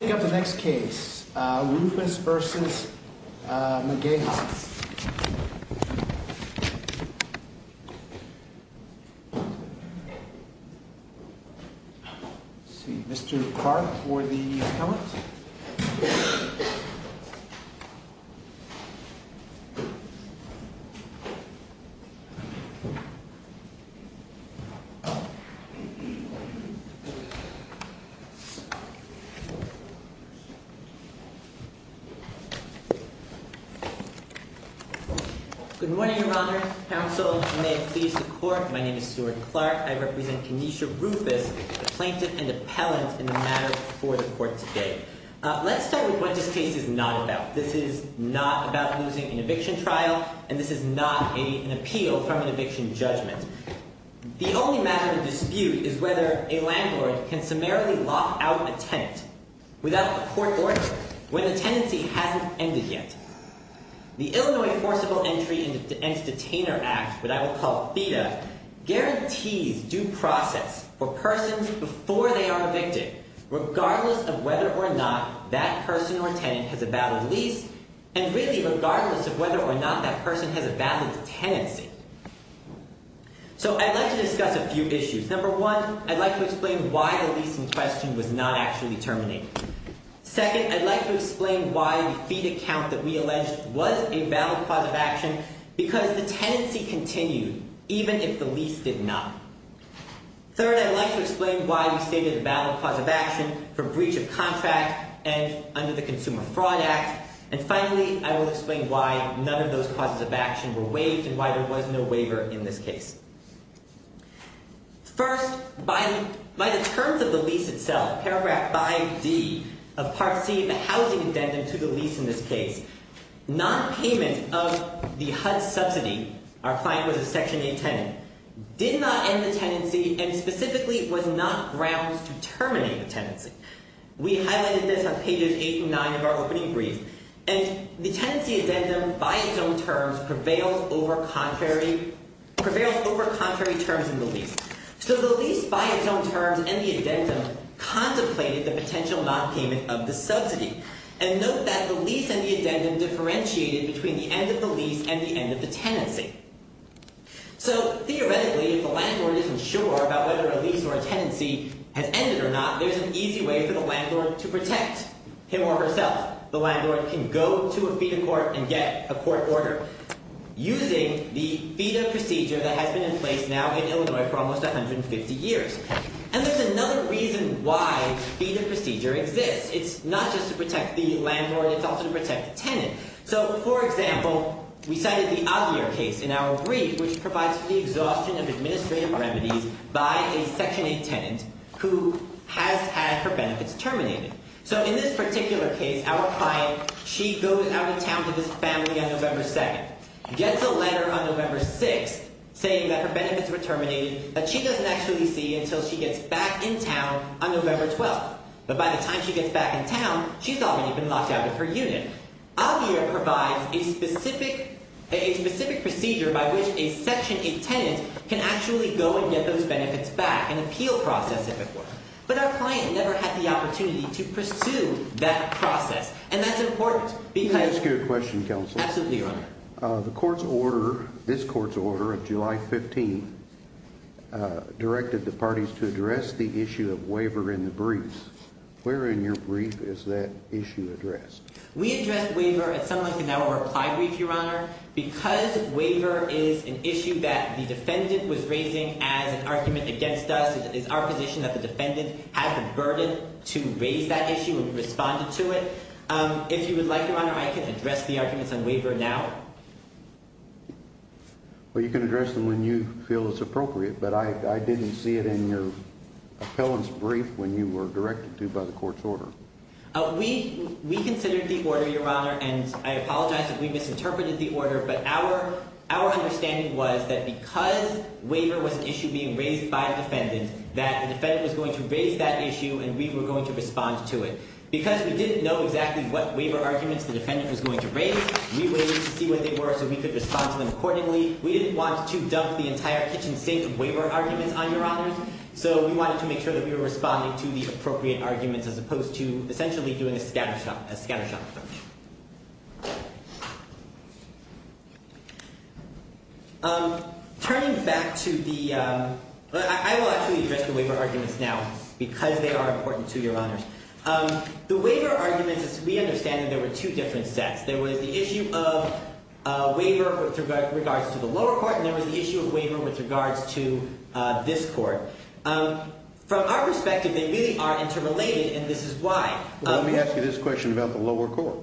Let's pick up the next case, Rufus v. McGaha. Let's see, Mr. Clark for the appellant. Good morning, Your Honor, counsel, and may it please the court, my name is Stuart Clark. I represent Kenesha Rufus, the plaintiff and appellant in the matter before the court today. Let's start with what this case is not about. This is not about losing an eviction trial, and this is not an appeal from an eviction judgment. The only matter of dispute is whether a landlord can summarily lock out a tenant without a court order when the tenancy hasn't ended yet. The Illinois Forcible Entry and Detainer Act, what I will call FEDA, guarantees due process for persons before they are evicted, regardless of whether or not that person or tenant has a valid lease, and really regardless of whether or not that person has a valid tenancy. So I'd like to discuss a few issues. Number one, I'd like to explain why the lease in question was not actually terminated. Second, I'd like to explain why the FEDA count that we alleged was a valid cause of action because the tenancy continued, even if the lease did not. Third, I'd like to explain why we stated a valid cause of action for breach of contract and under the Consumer Fraud Act. And finally, I will explain why none of those causes of action were waived and why there was no waiver in this case. First, by the terms of the lease itself, paragraph 5D of Part C of the housing addendum to the lease in this case, nonpayment of the HUD subsidy, our client was a Section 8 tenant, did not end the tenancy and specifically was not grounds to terminate the tenancy. We highlighted this on pages 8 and 9 of our opening brief, and the tenancy addendum by its own terms prevails over contrary terms in the lease. So the lease by its own terms and the addendum contemplated the potential nonpayment of the subsidy. And note that the lease and the addendum differentiated between the end of the lease and the end of the tenancy. So theoretically, if the landlord isn't sure about whether a lease or a tenancy has ended or not, there's an easy way for the landlord to protect him or herself. The landlord can go to a FEDA court and get a court order using the FEDA procedure that has been in place now in Illinois for almost 150 years. And there's another reason why the FEDA procedure exists. It's not just to protect the landlord. It's also to protect the tenant. So, for example, we cited the Aguirre case in our brief, which provides for the exhaustion of administrative remedies by a Section 8 tenant who has had her benefits terminated. So in this particular case, our client, she goes out of town to this family on November 2nd, gets a letter on November 6th saying that her benefits were terminated, but she doesn't actually see until she gets back in town on November 12th. But by the time she gets back in town, she's already been locked out of her unit. Aguirre provides a specific procedure by which a Section 8 tenant can actually go and get those benefits back, an appeal process, if it were. But our client never had the opportunity to pursue that process. And that's important because— Can I ask you a question, Counsel? Absolutely, Your Honor. The court's order, this court's order of July 15, directed the parties to address the issue of waiver in the brief. Where in your brief is that issue addressed? We addressed waiver at some length in our reply brief, Your Honor. Because waiver is an issue that the defendant was raising as an argument against us, it is our position that the defendant had the burden to raise that issue and responded to it. If you would like, Your Honor, I can address the arguments on waiver now. Well, you can address them when you feel it's appropriate, but I didn't see it in your appellant's brief when you were directed to by the court's order. We considered the order, Your Honor, and I apologize if we misinterpreted the order. But our understanding was that because waiver was an issue being raised by a defendant, that the defendant was going to raise that issue and we were going to respond to it. Because we didn't know exactly what waiver arguments the defendant was going to raise, we waited to see what they were so we could respond to them accordingly. We didn't want to dump the entire kitchen sink of waiver arguments on Your Honor. So we wanted to make sure that we were responding to the appropriate arguments as opposed to essentially doing a scattershot approach. Turning back to the – I will actually address the waiver arguments now because they are important to Your Honors. The waiver arguments, as we understand them, there were two different sets. There was the issue of waiver with regards to the lower court and there was the issue of waiver with regards to this court. From our perspective, they really are interrelated, and this is why. Let me ask you this question about the lower court.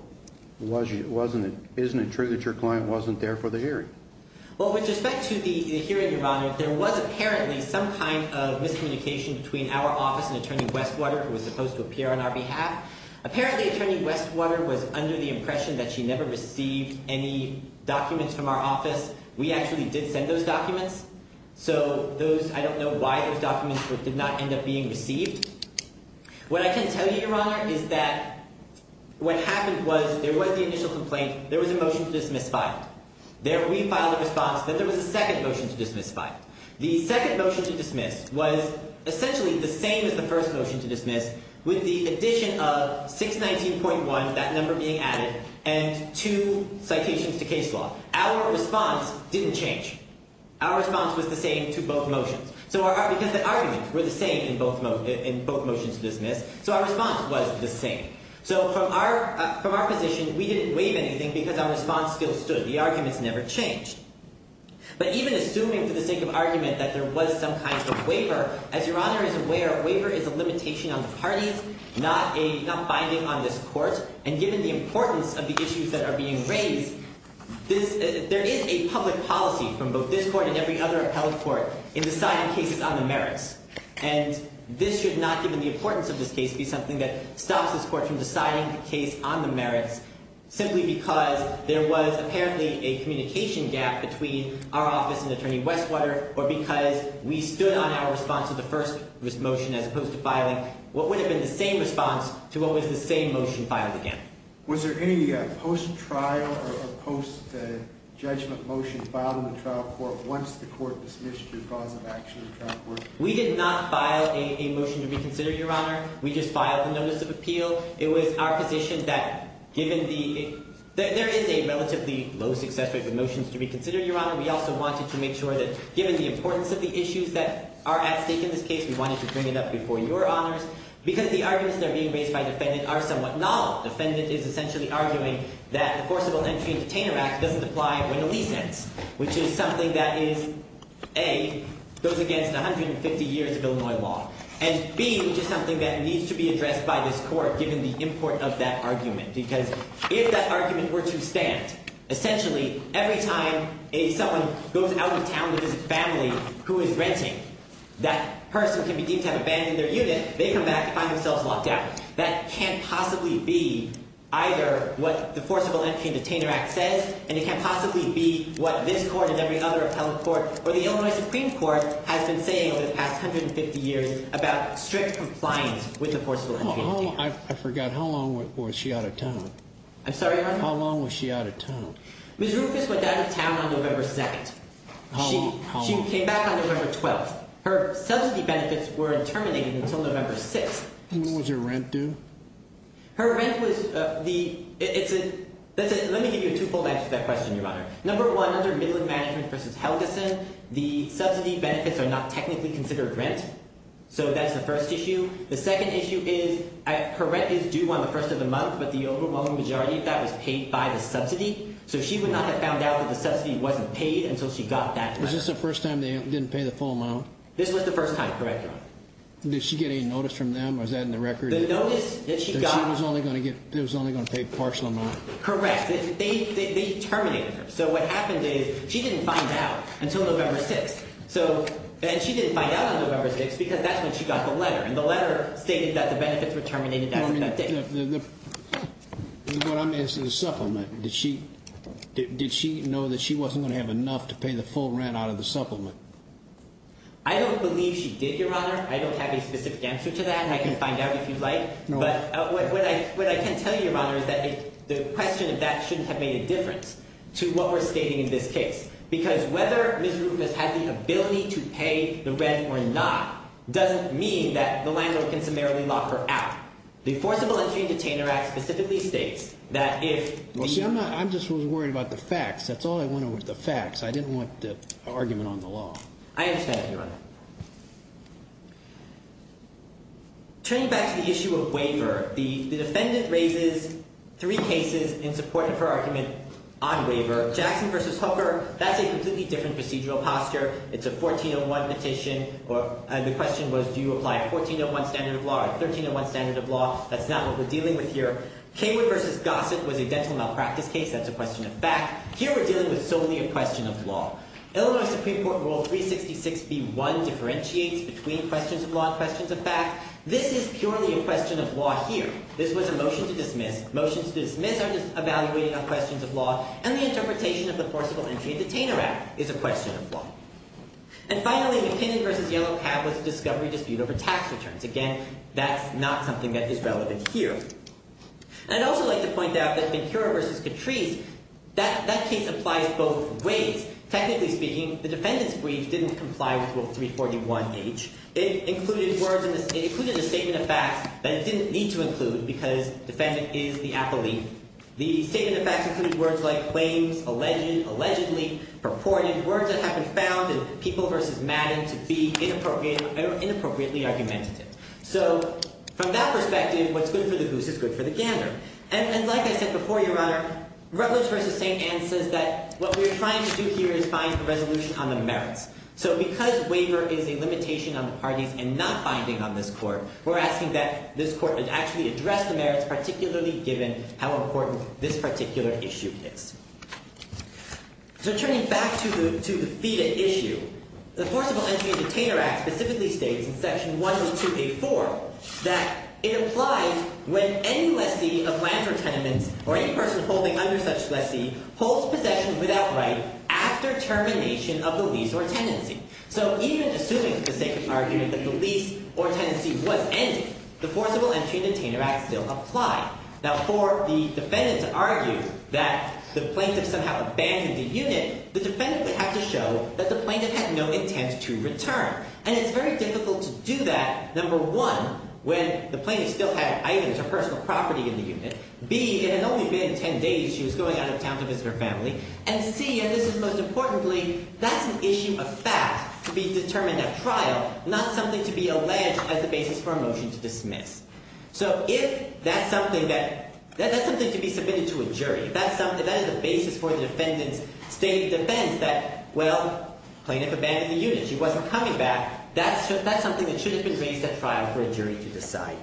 Wasn't it – isn't it true that your client wasn't there for the hearing? Well, with respect to the hearing, Your Honor, there was apparently some kind of miscommunication between our office and Attorney Westwater, who was supposed to appear on our behalf. Apparently, Attorney Westwater was under the impression that she never received any documents from our office. We actually did send those documents. So those – I don't know why those documents did not end up being received. What I can tell you, Your Honor, is that what happened was there was the initial complaint. There was a motion to dismiss filed. There we filed a response that there was a second motion to dismiss filed. The second motion to dismiss was essentially the same as the first motion to dismiss with the addition of 619.1, that number being added, and two citations to case law. Our response didn't change. Our response was the same to both motions. So our – because the arguments were the same in both motions to dismiss, so our response was the same. So from our position, we didn't waive anything because our response still stood. The arguments never changed. But even assuming for the sake of argument that there was some kind of waiver, as Your Honor is aware, a waiver is a limitation on the parties, not a – not binding on this court. And given the importance of the issues that are being raised, this – there is a public policy from both this court and every other appellate court in deciding cases on the merits. And this should not, given the importance of this case, be something that stops this court from deciding the case on the merits simply because there was apparently a communication gap between our office and Attorney Westwater or because we stood on our response to the first motion as opposed to filing what would have been the same response to what was the same motion filed again. Was there any post-trial or post-judgment motion filed in the trial court once the court dismissed your cause of action in the trial court? We did not file a motion to reconsider, Your Honor. We just filed a notice of appeal. It was our position that given the – there is a relatively low success rate for motions to reconsider, Your Honor. We also wanted to make sure that given the importance of the issues that are at stake in this case, we wanted to bring it up before Your Honors because the arguments that are being raised by the defendant are somewhat novel. The defendant is essentially arguing that the Forcible Entry and Detainer Act doesn't apply when a lease ends, which is something that is, A, goes against 150 years of Illinois law, and B, which is something that needs to be addressed by this court given the importance of that argument because if that argument were to stand, essentially every time someone goes out of town to visit family who is renting, that person can be deemed to have abandoned their unit. They come back to find themselves locked out. That can't possibly be either what the Forcible Entry and Detainer Act says and it can't possibly be what this court and every other appellate court or the Illinois Supreme Court has been saying over the past 150 years about strict compliance with the Forcible Entry and Detainer Act. I forgot. How long was she out of town? I'm sorry, Your Honor? How long was she out of town? Ms. Rufus went out of town on November 2nd. How long? She came back on November 12th. Her subsidy benefits were terminated until November 6th. When was her rent due? Her rent was – let me give you a two-fold answer to that question, Your Honor. Number one, under Midland Management v. Helgeson, the subsidy benefits are not technically considered rent, so that's the first issue. The second issue is her rent is due on the first of the month, but the overwhelming majority of that was paid by the subsidy, so she would not have found out that the subsidy wasn't paid until she got that letter. Was this the first time they didn't pay the full amount? This was the first time, correct, Your Honor. Did she get any notice from them? Was that in the record? The notice that she got – That she was only going to get – that she was only going to pay a partial amount? Correct. They terminated her. So what happened is she didn't find out until November 6th, and she didn't find out on November 6th because that's when she got the letter, and the letter stated that the benefits were terminated that day. What I'm asking is supplement. Did she know that she wasn't going to have enough to pay the full rent out of the supplement? I don't believe she did, Your Honor. I don't have a specific answer to that. I can find out if you'd like. But what I can tell you, Your Honor, is that the question of that shouldn't have made a difference to what we're stating in this case because whether Ms. Rufus had the ability to pay the rent or not doesn't mean that the landlord can summarily lock her out. The Forcible Entry and Detainer Act specifically states that if – I'm not – I just was worried about the facts. That's all I wanted was the facts. I didn't want the argument on the law. I understand, Your Honor. Turning back to the issue of waiver, the defendant raises three cases in support of her argument on waiver. Jackson v. Hooker, that's a completely different procedural posture. It's a 1401 petition. The question was do you apply a 1401 standard of law or a 1301 standard of law. That's not what we're dealing with here. Kingwood v. Gossett was a dental malpractice case. That's a question of fact. Here we're dealing with solely a question of law. Illinois Supreme Court Rule 366b-1 differentiates between questions of law and questions of fact. This is purely a question of law here. This was a motion to dismiss. Motions to dismiss are just evaluating on questions of law. And the interpretation of the Forcible Entry and Detainer Act is a question of law. And finally, McKinnon v. Yellow Cab was a discovery dispute over tax returns. Again, that's not something that is relevant here. And I'd also like to point out that Ben-Hur v. Catrice, that case applies both ways. Technically speaking, the defendant's brief didn't comply with Rule 341H. It included words in the – it included a statement of facts that it didn't need to include because the defendant is the appellee. The statement of facts included words like claims, alleged, allegedly, purported, words that have been found in People v. Madden to be inappropriately argumentative. So from that perspective, what's good for the goose is good for the gander. And like I said before, Your Honor, Rutledge v. St. Anne says that what we're trying to do here is find a resolution on the merits. So because waiver is a limitation on the parties and not binding on this court, we're asking that this court actually address the merits, particularly given how important this particular issue is. So turning back to the FEDA issue, the Forcible Entry and Detainer Act specifically states in Section 102A4 that it applies when any lessee of land or tenements or any person holding under such lessee holds possession without right after termination of the lease or tenancy. So even assuming, for the sake of argument, that the lease or tenancy was ended, the Forcible Entry and Detainer Act still applied. Now, for the defendant to argue that the plaintiff somehow abandoned the unit, the defendant would have to show that the plaintiff had no intent to return. And it's very difficult to do that, number one, when the plaintiff still had items or personal property in the unit, B, it had only been ten days she was going out of town to visit her family, and C, and this is most importantly, that's an issue of fact to be determined at trial, not something to be alleged as the basis for a motion to dismiss. So if that's something to be submitted to a jury, if that is the basis for the defendant's stated defense that, well, plaintiff abandoned the unit, she wasn't coming back, that's something that should have been raised at trial for a jury to decide.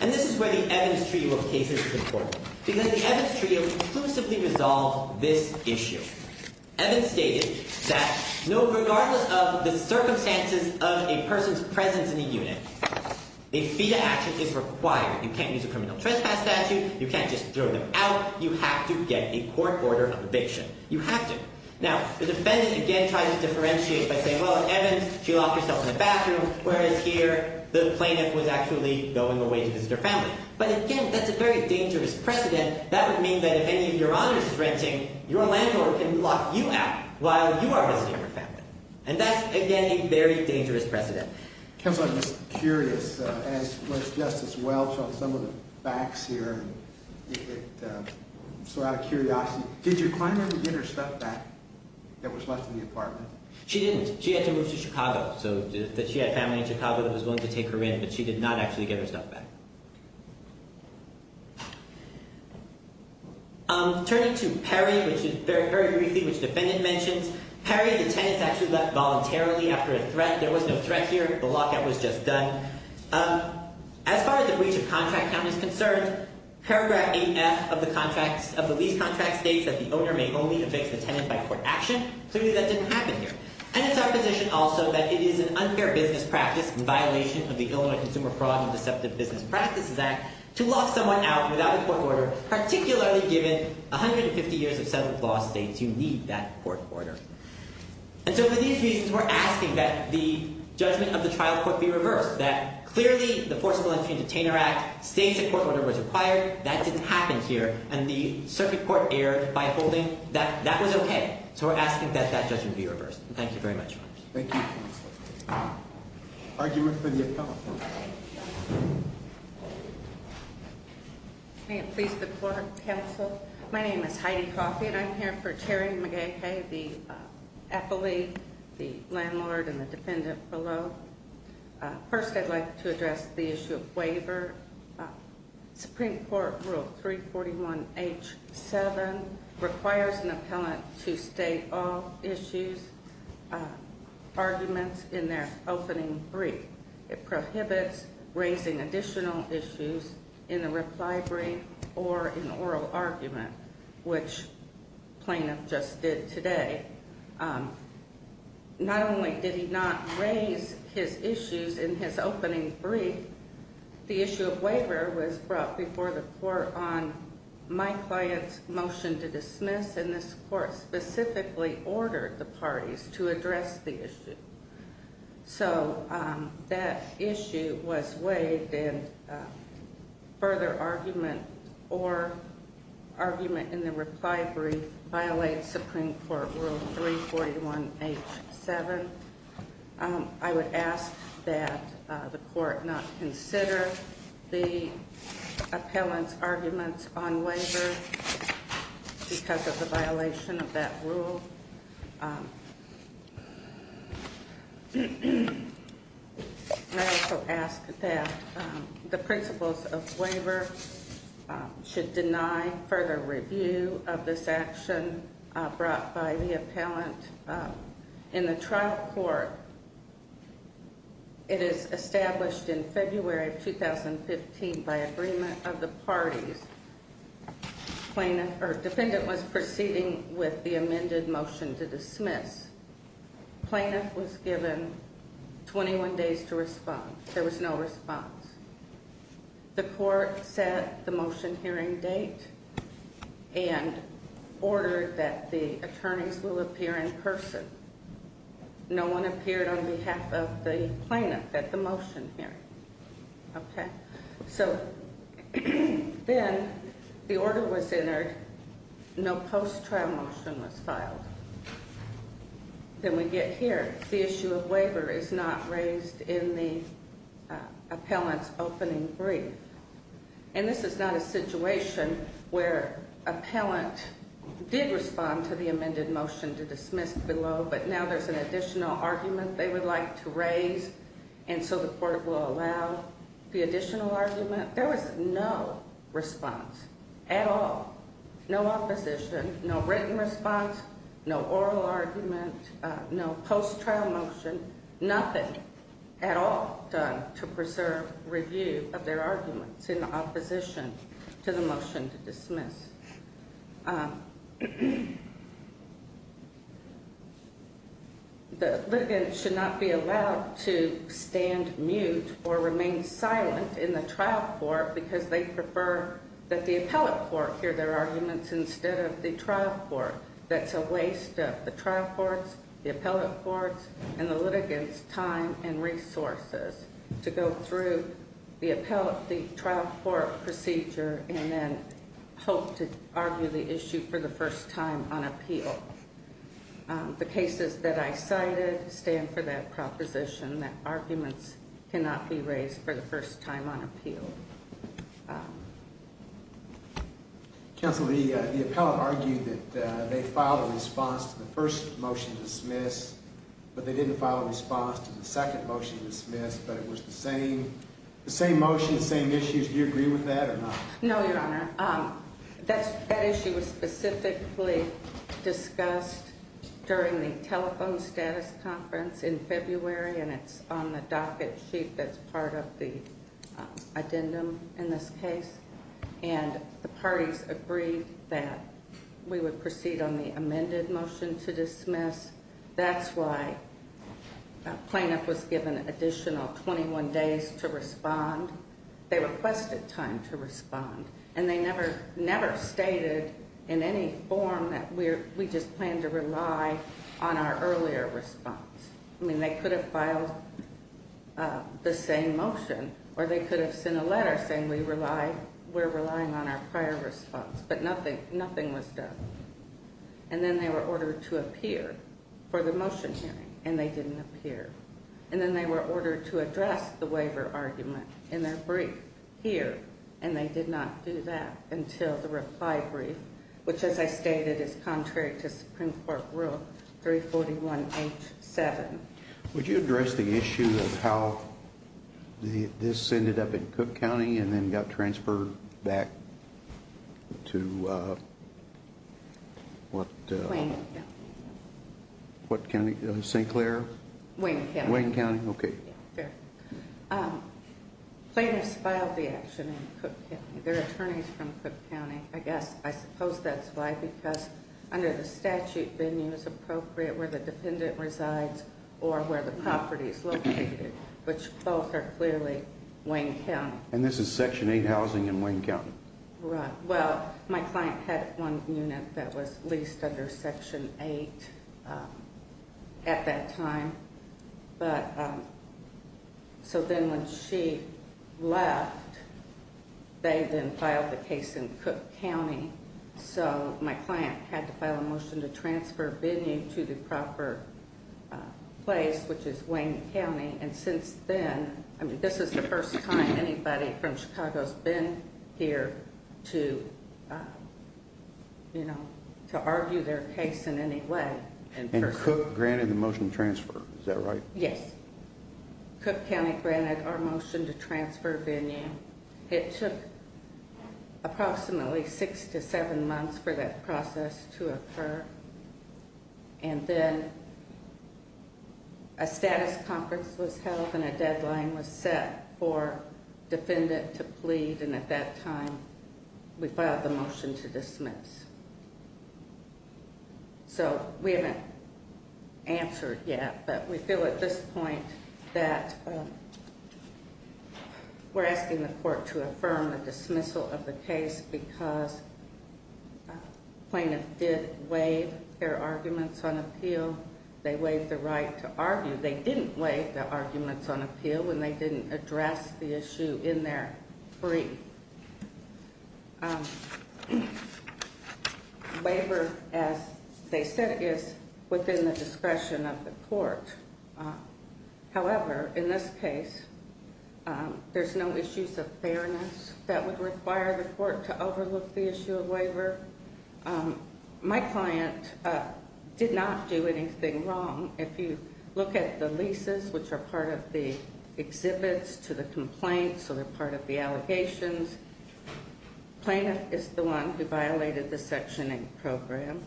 And this is where the Evans Trio of Cases is important, because the Evans Trio exclusively resolved this issue. Evans stated that, no, regardless of the circumstances of a person's presence in the unit, a fee to action is required. You can't use a criminal trespass statute. You can't just throw them out. You have to get a court order of eviction. You have to. Now, the defendant, again, tries to differentiate by saying, well, Evans, she locked herself in the bathroom, whereas here the plaintiff was actually going away to visit her family. But again, that's a very dangerous precedent. That would mean that if any of your honors is renting, your landlord can lock you out while you are visiting her family. And that's, again, a very dangerous precedent. Counselor, I'm just curious, as was Justice Welch on some of the facts here, and it's a lot of curiosity. Did your client ever get her stuff back that was left in the apartment? She didn't. She had to move to Chicago. So she had family in Chicago that was willing to take her in, but she did not actually get her stuff back. Turning to Perry, which is very briefly, which the defendant mentions, Perry, the tenant's actually left voluntarily after a threat. There was no threat here. The lockout was just done. As far as the breach of contract count is concerned, paragraph 8F of the lease contract states that the owner may only evict the tenant by court action. Clearly, that didn't happen here. And it's our position also that it is an unfair business practice and violation of the Illinois Consumer Fraud and Deceptive Business Practices Act to lock someone out without a court order, particularly given 150 years of settled law states, you need that court order. And so for these reasons, we're asking that the judgment of the trial court be reversed, that clearly the Forcible Entry and Detainer Act states a court order was required. That didn't happen here. And the circuit court erred by holding that that was OK. So we're asking that that judgment be reversed. Thank you very much. Thank you, counsel. Argument for the appellant. May it please the court, counsel. My name is Heidi Coffey, and I'm here for Terry McGaha, the affiliate, the landlord, and the defendant below. First, I'd like to address the issue of waiver. Supreme Court Rule 341H7 requires an appellant to state all issues, arguments in their opening brief. It prohibits raising additional issues in a reply brief or an oral argument, which plaintiff just did today. Not only did he not raise his issues in his opening brief, the issue of waiver was brought before the court on my client's motion to dismiss, and this court specifically ordered the parties to address the issue. So that issue was waived, and further argument or argument in the reply brief violates Supreme Court Rule 341H7. I would ask that the court not consider the appellant's arguments on waiver because of the violation of that rule. I also ask that the principles of waiver should deny further review of this action brought by the appellant in the trial court. It is established in February of 2015 by agreement of the parties. Defendant was proceeding with the amended motion to dismiss. Plaintiff was given 21 days to respond. There was no response. The court set the motion hearing date and ordered that the attorneys will appear in person. No one appeared on behalf of the plaintiff at the motion hearing, okay? So then the order was entered. No post-trial motion was filed. Then we get here. The issue of waiver is not raised in the appellant's opening brief, and this is not a situation where appellant did respond to the amended motion to dismiss below, but now there's an additional argument they would like to raise, and so the court will allow the additional argument. There was no response at all, no opposition, no written response, no oral argument, no post-trial motion, nothing at all done to preserve review of their arguments in opposition to the motion to dismiss. The litigants should not be allowed to stand mute or remain silent in the trial court because they prefer that the appellate court hear their arguments instead of the trial court. That's a waste of the trial court's, the appellate court's, and the litigant's time and resources to go through the trial court procedure and then hope to argue the issue for the first time on appeal. The cases that I cited stand for that proposition that arguments cannot be raised for the first time on appeal. Counsel, the appellant argued that they filed a response to the first motion to dismiss, but they didn't file a response to the second motion to dismiss, but it was the same motion, the same issues. Do you agree with that or not? No, Your Honor. That issue was specifically discussed during the telephone status conference in February, and it's on the docket sheet that's part of the addendum in this case, and the parties agreed that we would proceed on the amended motion to dismiss. That's why a plaintiff was given additional 21 days to respond. They requested time to respond, and they never stated in any form that we just plan to rely on our earlier response. I mean, they could have filed the same motion, or they could have sent a letter saying we're relying on our prior response, but nothing was done. And then they were ordered to appear for the motion hearing, and they didn't appear. And then they were ordered to address the waiver argument in their brief here, and they did not do that until the reply brief, which, as I stated, is contrary to Supreme Court Rule 341H7. Would you address the issue of how this ended up in Cook County and then got transferred back to what? Wayne County. What county? St. Clair? Wayne County. Wayne County, okay. Yeah, there. Plaintiffs filed the action in Cook County. They're attorneys from Cook County, I guess. I suppose that's why, because under the statute, venue is appropriate where the dependent resides or where the property is located, which both are clearly Wayne County. And this is Section 8 housing in Wayne County? Right. Well, my client had one unit that was leased under Section 8 at that time. But so then when she left, they then filed the case in Cook County. So my client had to file a motion to transfer venue to the proper place, which is Wayne County. And since then, I mean, this is the first time anybody from Chicago has been here to, you know, to argue their case in any way. And Cook granted the motion to transfer, is that right? Yes. Cook County granted our motion to transfer venue. It took approximately six to seven months for that process to occur. And then a status conference was held and a deadline was set for defendant to plead. So we haven't answered yet, but we feel at this point that we're asking the court to affirm the dismissal of the case because plaintiff did waive their arguments on appeal. They waived the right to argue. They didn't waive the arguments on appeal, and they didn't address the issue in their brief. Waiver, as they said, is within the discretion of the court. However, in this case, there's no issues of fairness that would require the court to overlook the issue of waiver. My client did not do anything wrong. If you look at the leases, which are part of the exhibits to the complaint, so they're part of the allegations, plaintiff is the one who violated the Section 8 program.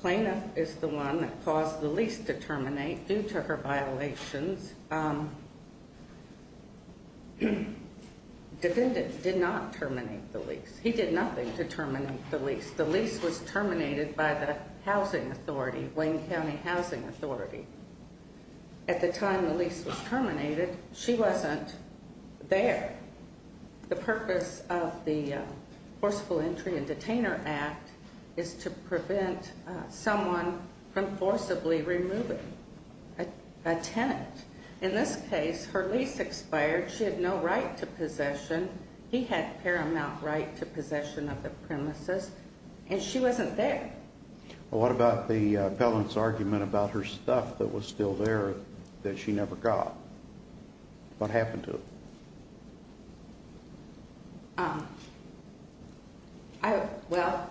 Plaintiff is the one that caused the lease to terminate due to her violations. Defendant did not terminate the lease. He did nothing to terminate the lease. The lease was terminated by the housing authority, Wayne County Housing Authority. At the time the lease was terminated, she wasn't there. The purpose of the Forceful Entry and Detainer Act is to prevent someone from forcibly removing a tenant. In this case, her lease expired. She had no right to possession. He had paramount right to possession of the premises, and she wasn't there. What about the felon's argument about her stuff that was still there that she never got? What happened to it? Well,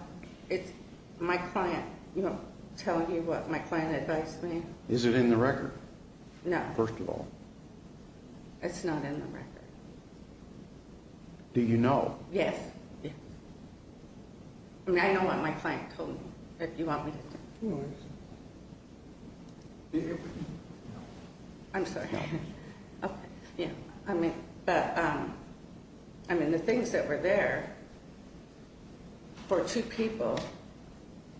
it's my client telling you what my client advised me. Is it in the record? No. First of all. It's not in the record. Do you know? Yes. I mean, I know what my client told me, if you want me to tell you. I'm sorry. Okay. Yeah. I mean, the things that were there for two people,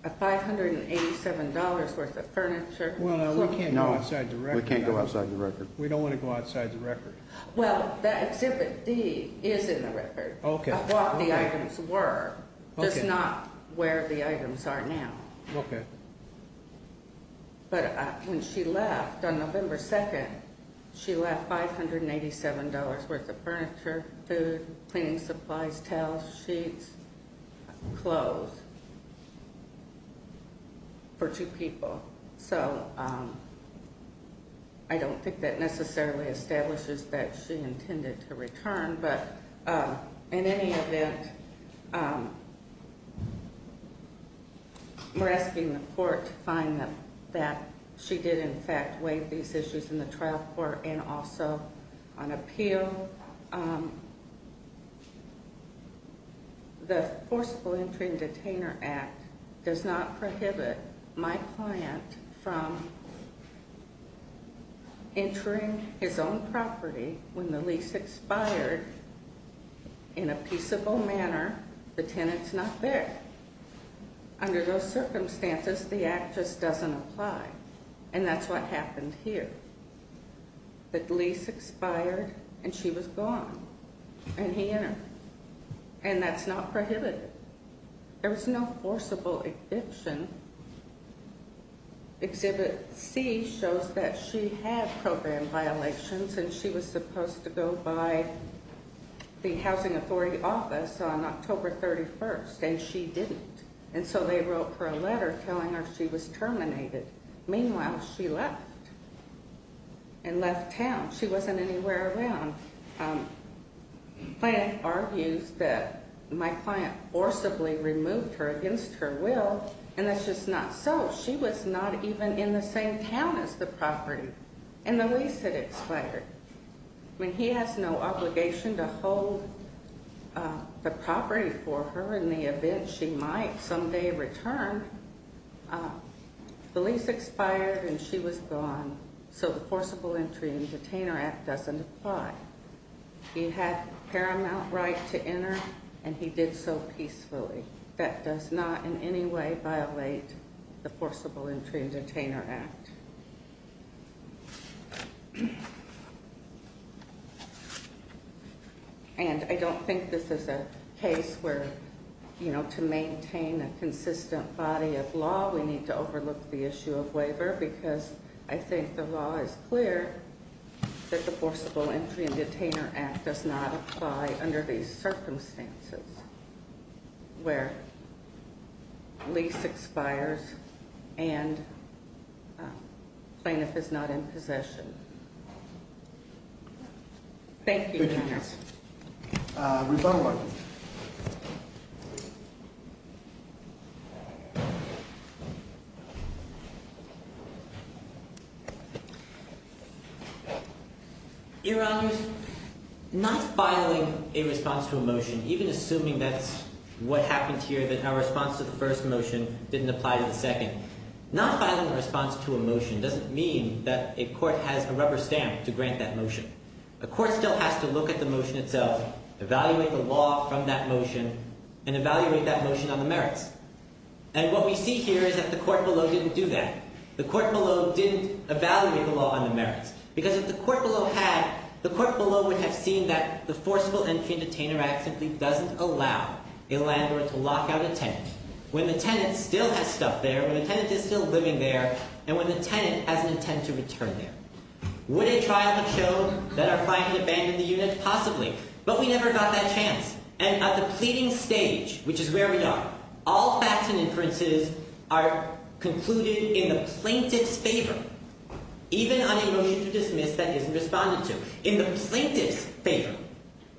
$587 worth of furniture. Well, we can't go outside the record. We can't go outside the record. We don't want to go outside the record. Well, the Exhibit D is in the record of what the items were. It's not where the items are now. Okay. But when she left on November 2nd, she left $587 worth of furniture, food, cleaning supplies, towels, sheets, clothes for two people. So I don't think that necessarily establishes that she intended to return. But in any event, we're asking the court to find that she did, in fact, waive these issues in the trial court and also on appeal. So the Forcible Entry and Detainer Act does not prohibit my client from entering his own property when the lease expired in a peaceable manner. The tenant's not there. Under those circumstances, the act just doesn't apply. And that's what happened here. The lease expired, and she was gone, and he entered. And that's not prohibited. There was no forcible eviction. Exhibit C shows that she had program violations, and she was supposed to go by the Housing Authority office on October 31st, and she didn't. And so they wrote her a letter telling her she was terminated. Meanwhile, she left and left town. She wasn't anywhere around. My client argues that my client forcibly removed her against her will, and that's just not so. She was not even in the same town as the property. And the lease had expired. I mean, he has no obligation to hold the property for her in the event she might someday return. The lease expired, and she was gone, so the Forcible Entry and Detainer Act doesn't apply. He had paramount right to enter, and he did so peacefully. That does not in any way violate the Forcible Entry and Detainer Act. And I don't think this is a case where, you know, to maintain a consistent body of law, we need to overlook the issue of waiver, because I think the law is clear that the Forcible Entry and Detainer Act does not apply under these circumstances where lease expires and plaintiff is not in possession. Thank you, Your Honor. Rebuttal argument. Your Honors, not filing a response to a motion, even assuming that's what happened here, that our response to the first motion didn't apply to the second, not filing a response to a motion doesn't mean that a court has a rubber stamp to grant that motion. A court still has to look at the motion itself, evaluate the law from that motion, and evaluate that motion on the merits. And what we see here is that the court below didn't do that. The court below didn't evaluate the law on the merits, because if the court below had, the court below would have seen that the Forcible Entry and Detainer Act simply doesn't allow a landlord to lock out a tenant. When the tenant still has stuff there, when the tenant is still living there, and when the tenant has an intent to return there. Would a trial have shown that our client had abandoned the unit? Possibly. But we never got that chance. And at the pleading stage, which is where we are, all facts and inferences are concluded in the plaintiff's favor, even on a motion to dismiss that isn't responded to, in the plaintiff's favor.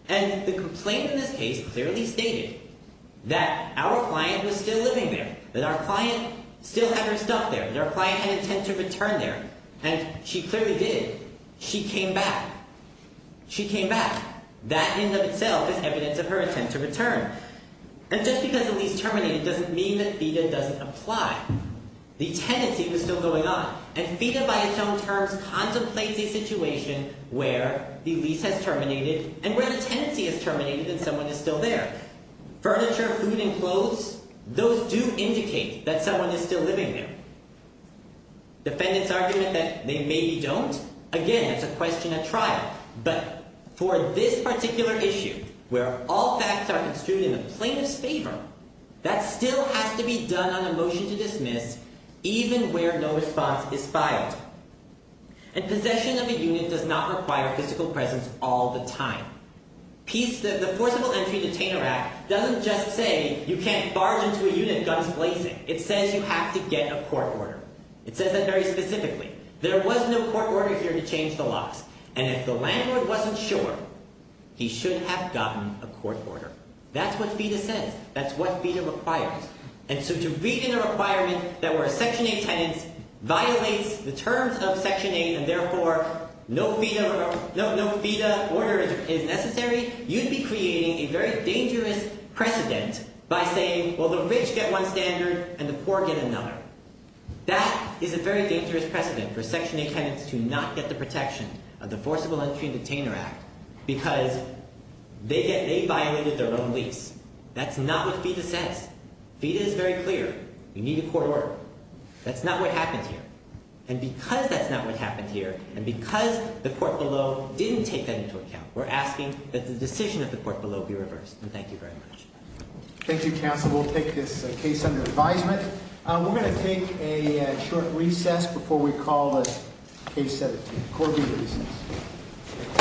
And the complaint in this case clearly stated that our client was still living there, that our client still had her stuff there, that our client had an intent to return there. And she clearly did. She came back. She came back. That in and of itself is evidence of her intent to return. And just because a lease terminated doesn't mean that FEDA doesn't apply. The tenancy was still going on. And FEDA, by its own terms, contemplates a situation where the lease has terminated and where the tenancy has terminated and someone is still there. Furniture, food, and clothes, those do indicate that someone is still living there. Defendant's argument that they maybe don't, again, it's a question at trial. But for this particular issue, where all facts are construed in the plaintiff's favor, that still has to be done on a motion to dismiss, even where no response is filed. And possession of a unit does not require physical presence all the time. The Forcible Entry Detainer Act doesn't just say you can't barge into a unit, guns blazing. It says you have to get a court order. It says that very specifically. There was no court order here to change the laws. And if the landlord wasn't sure, he should have gotten a court order. That's what FEDA says. That's what FEDA requires. And so to read in a requirement that where a Section 8 tenant violates the terms of Section 8 and, therefore, no FEDA order is necessary, you'd be creating a very dangerous precedent by saying, well, the rich get one standard and the poor get another. That is a very dangerous precedent for Section 8 tenants to not get the protection of the Forcible Entry Detainer Act because they violated their own lease. That's not what FEDA says. FEDA is very clear. You need a court order. That's not what happened here. And because that's not what happened here and because the court below didn't take that into account, we're asking that the decision of the court below be reversed. And thank you very much. Thank you, counsel. We'll take this case under advisement. We're going to take a short recess before we call the case set. Court will recess.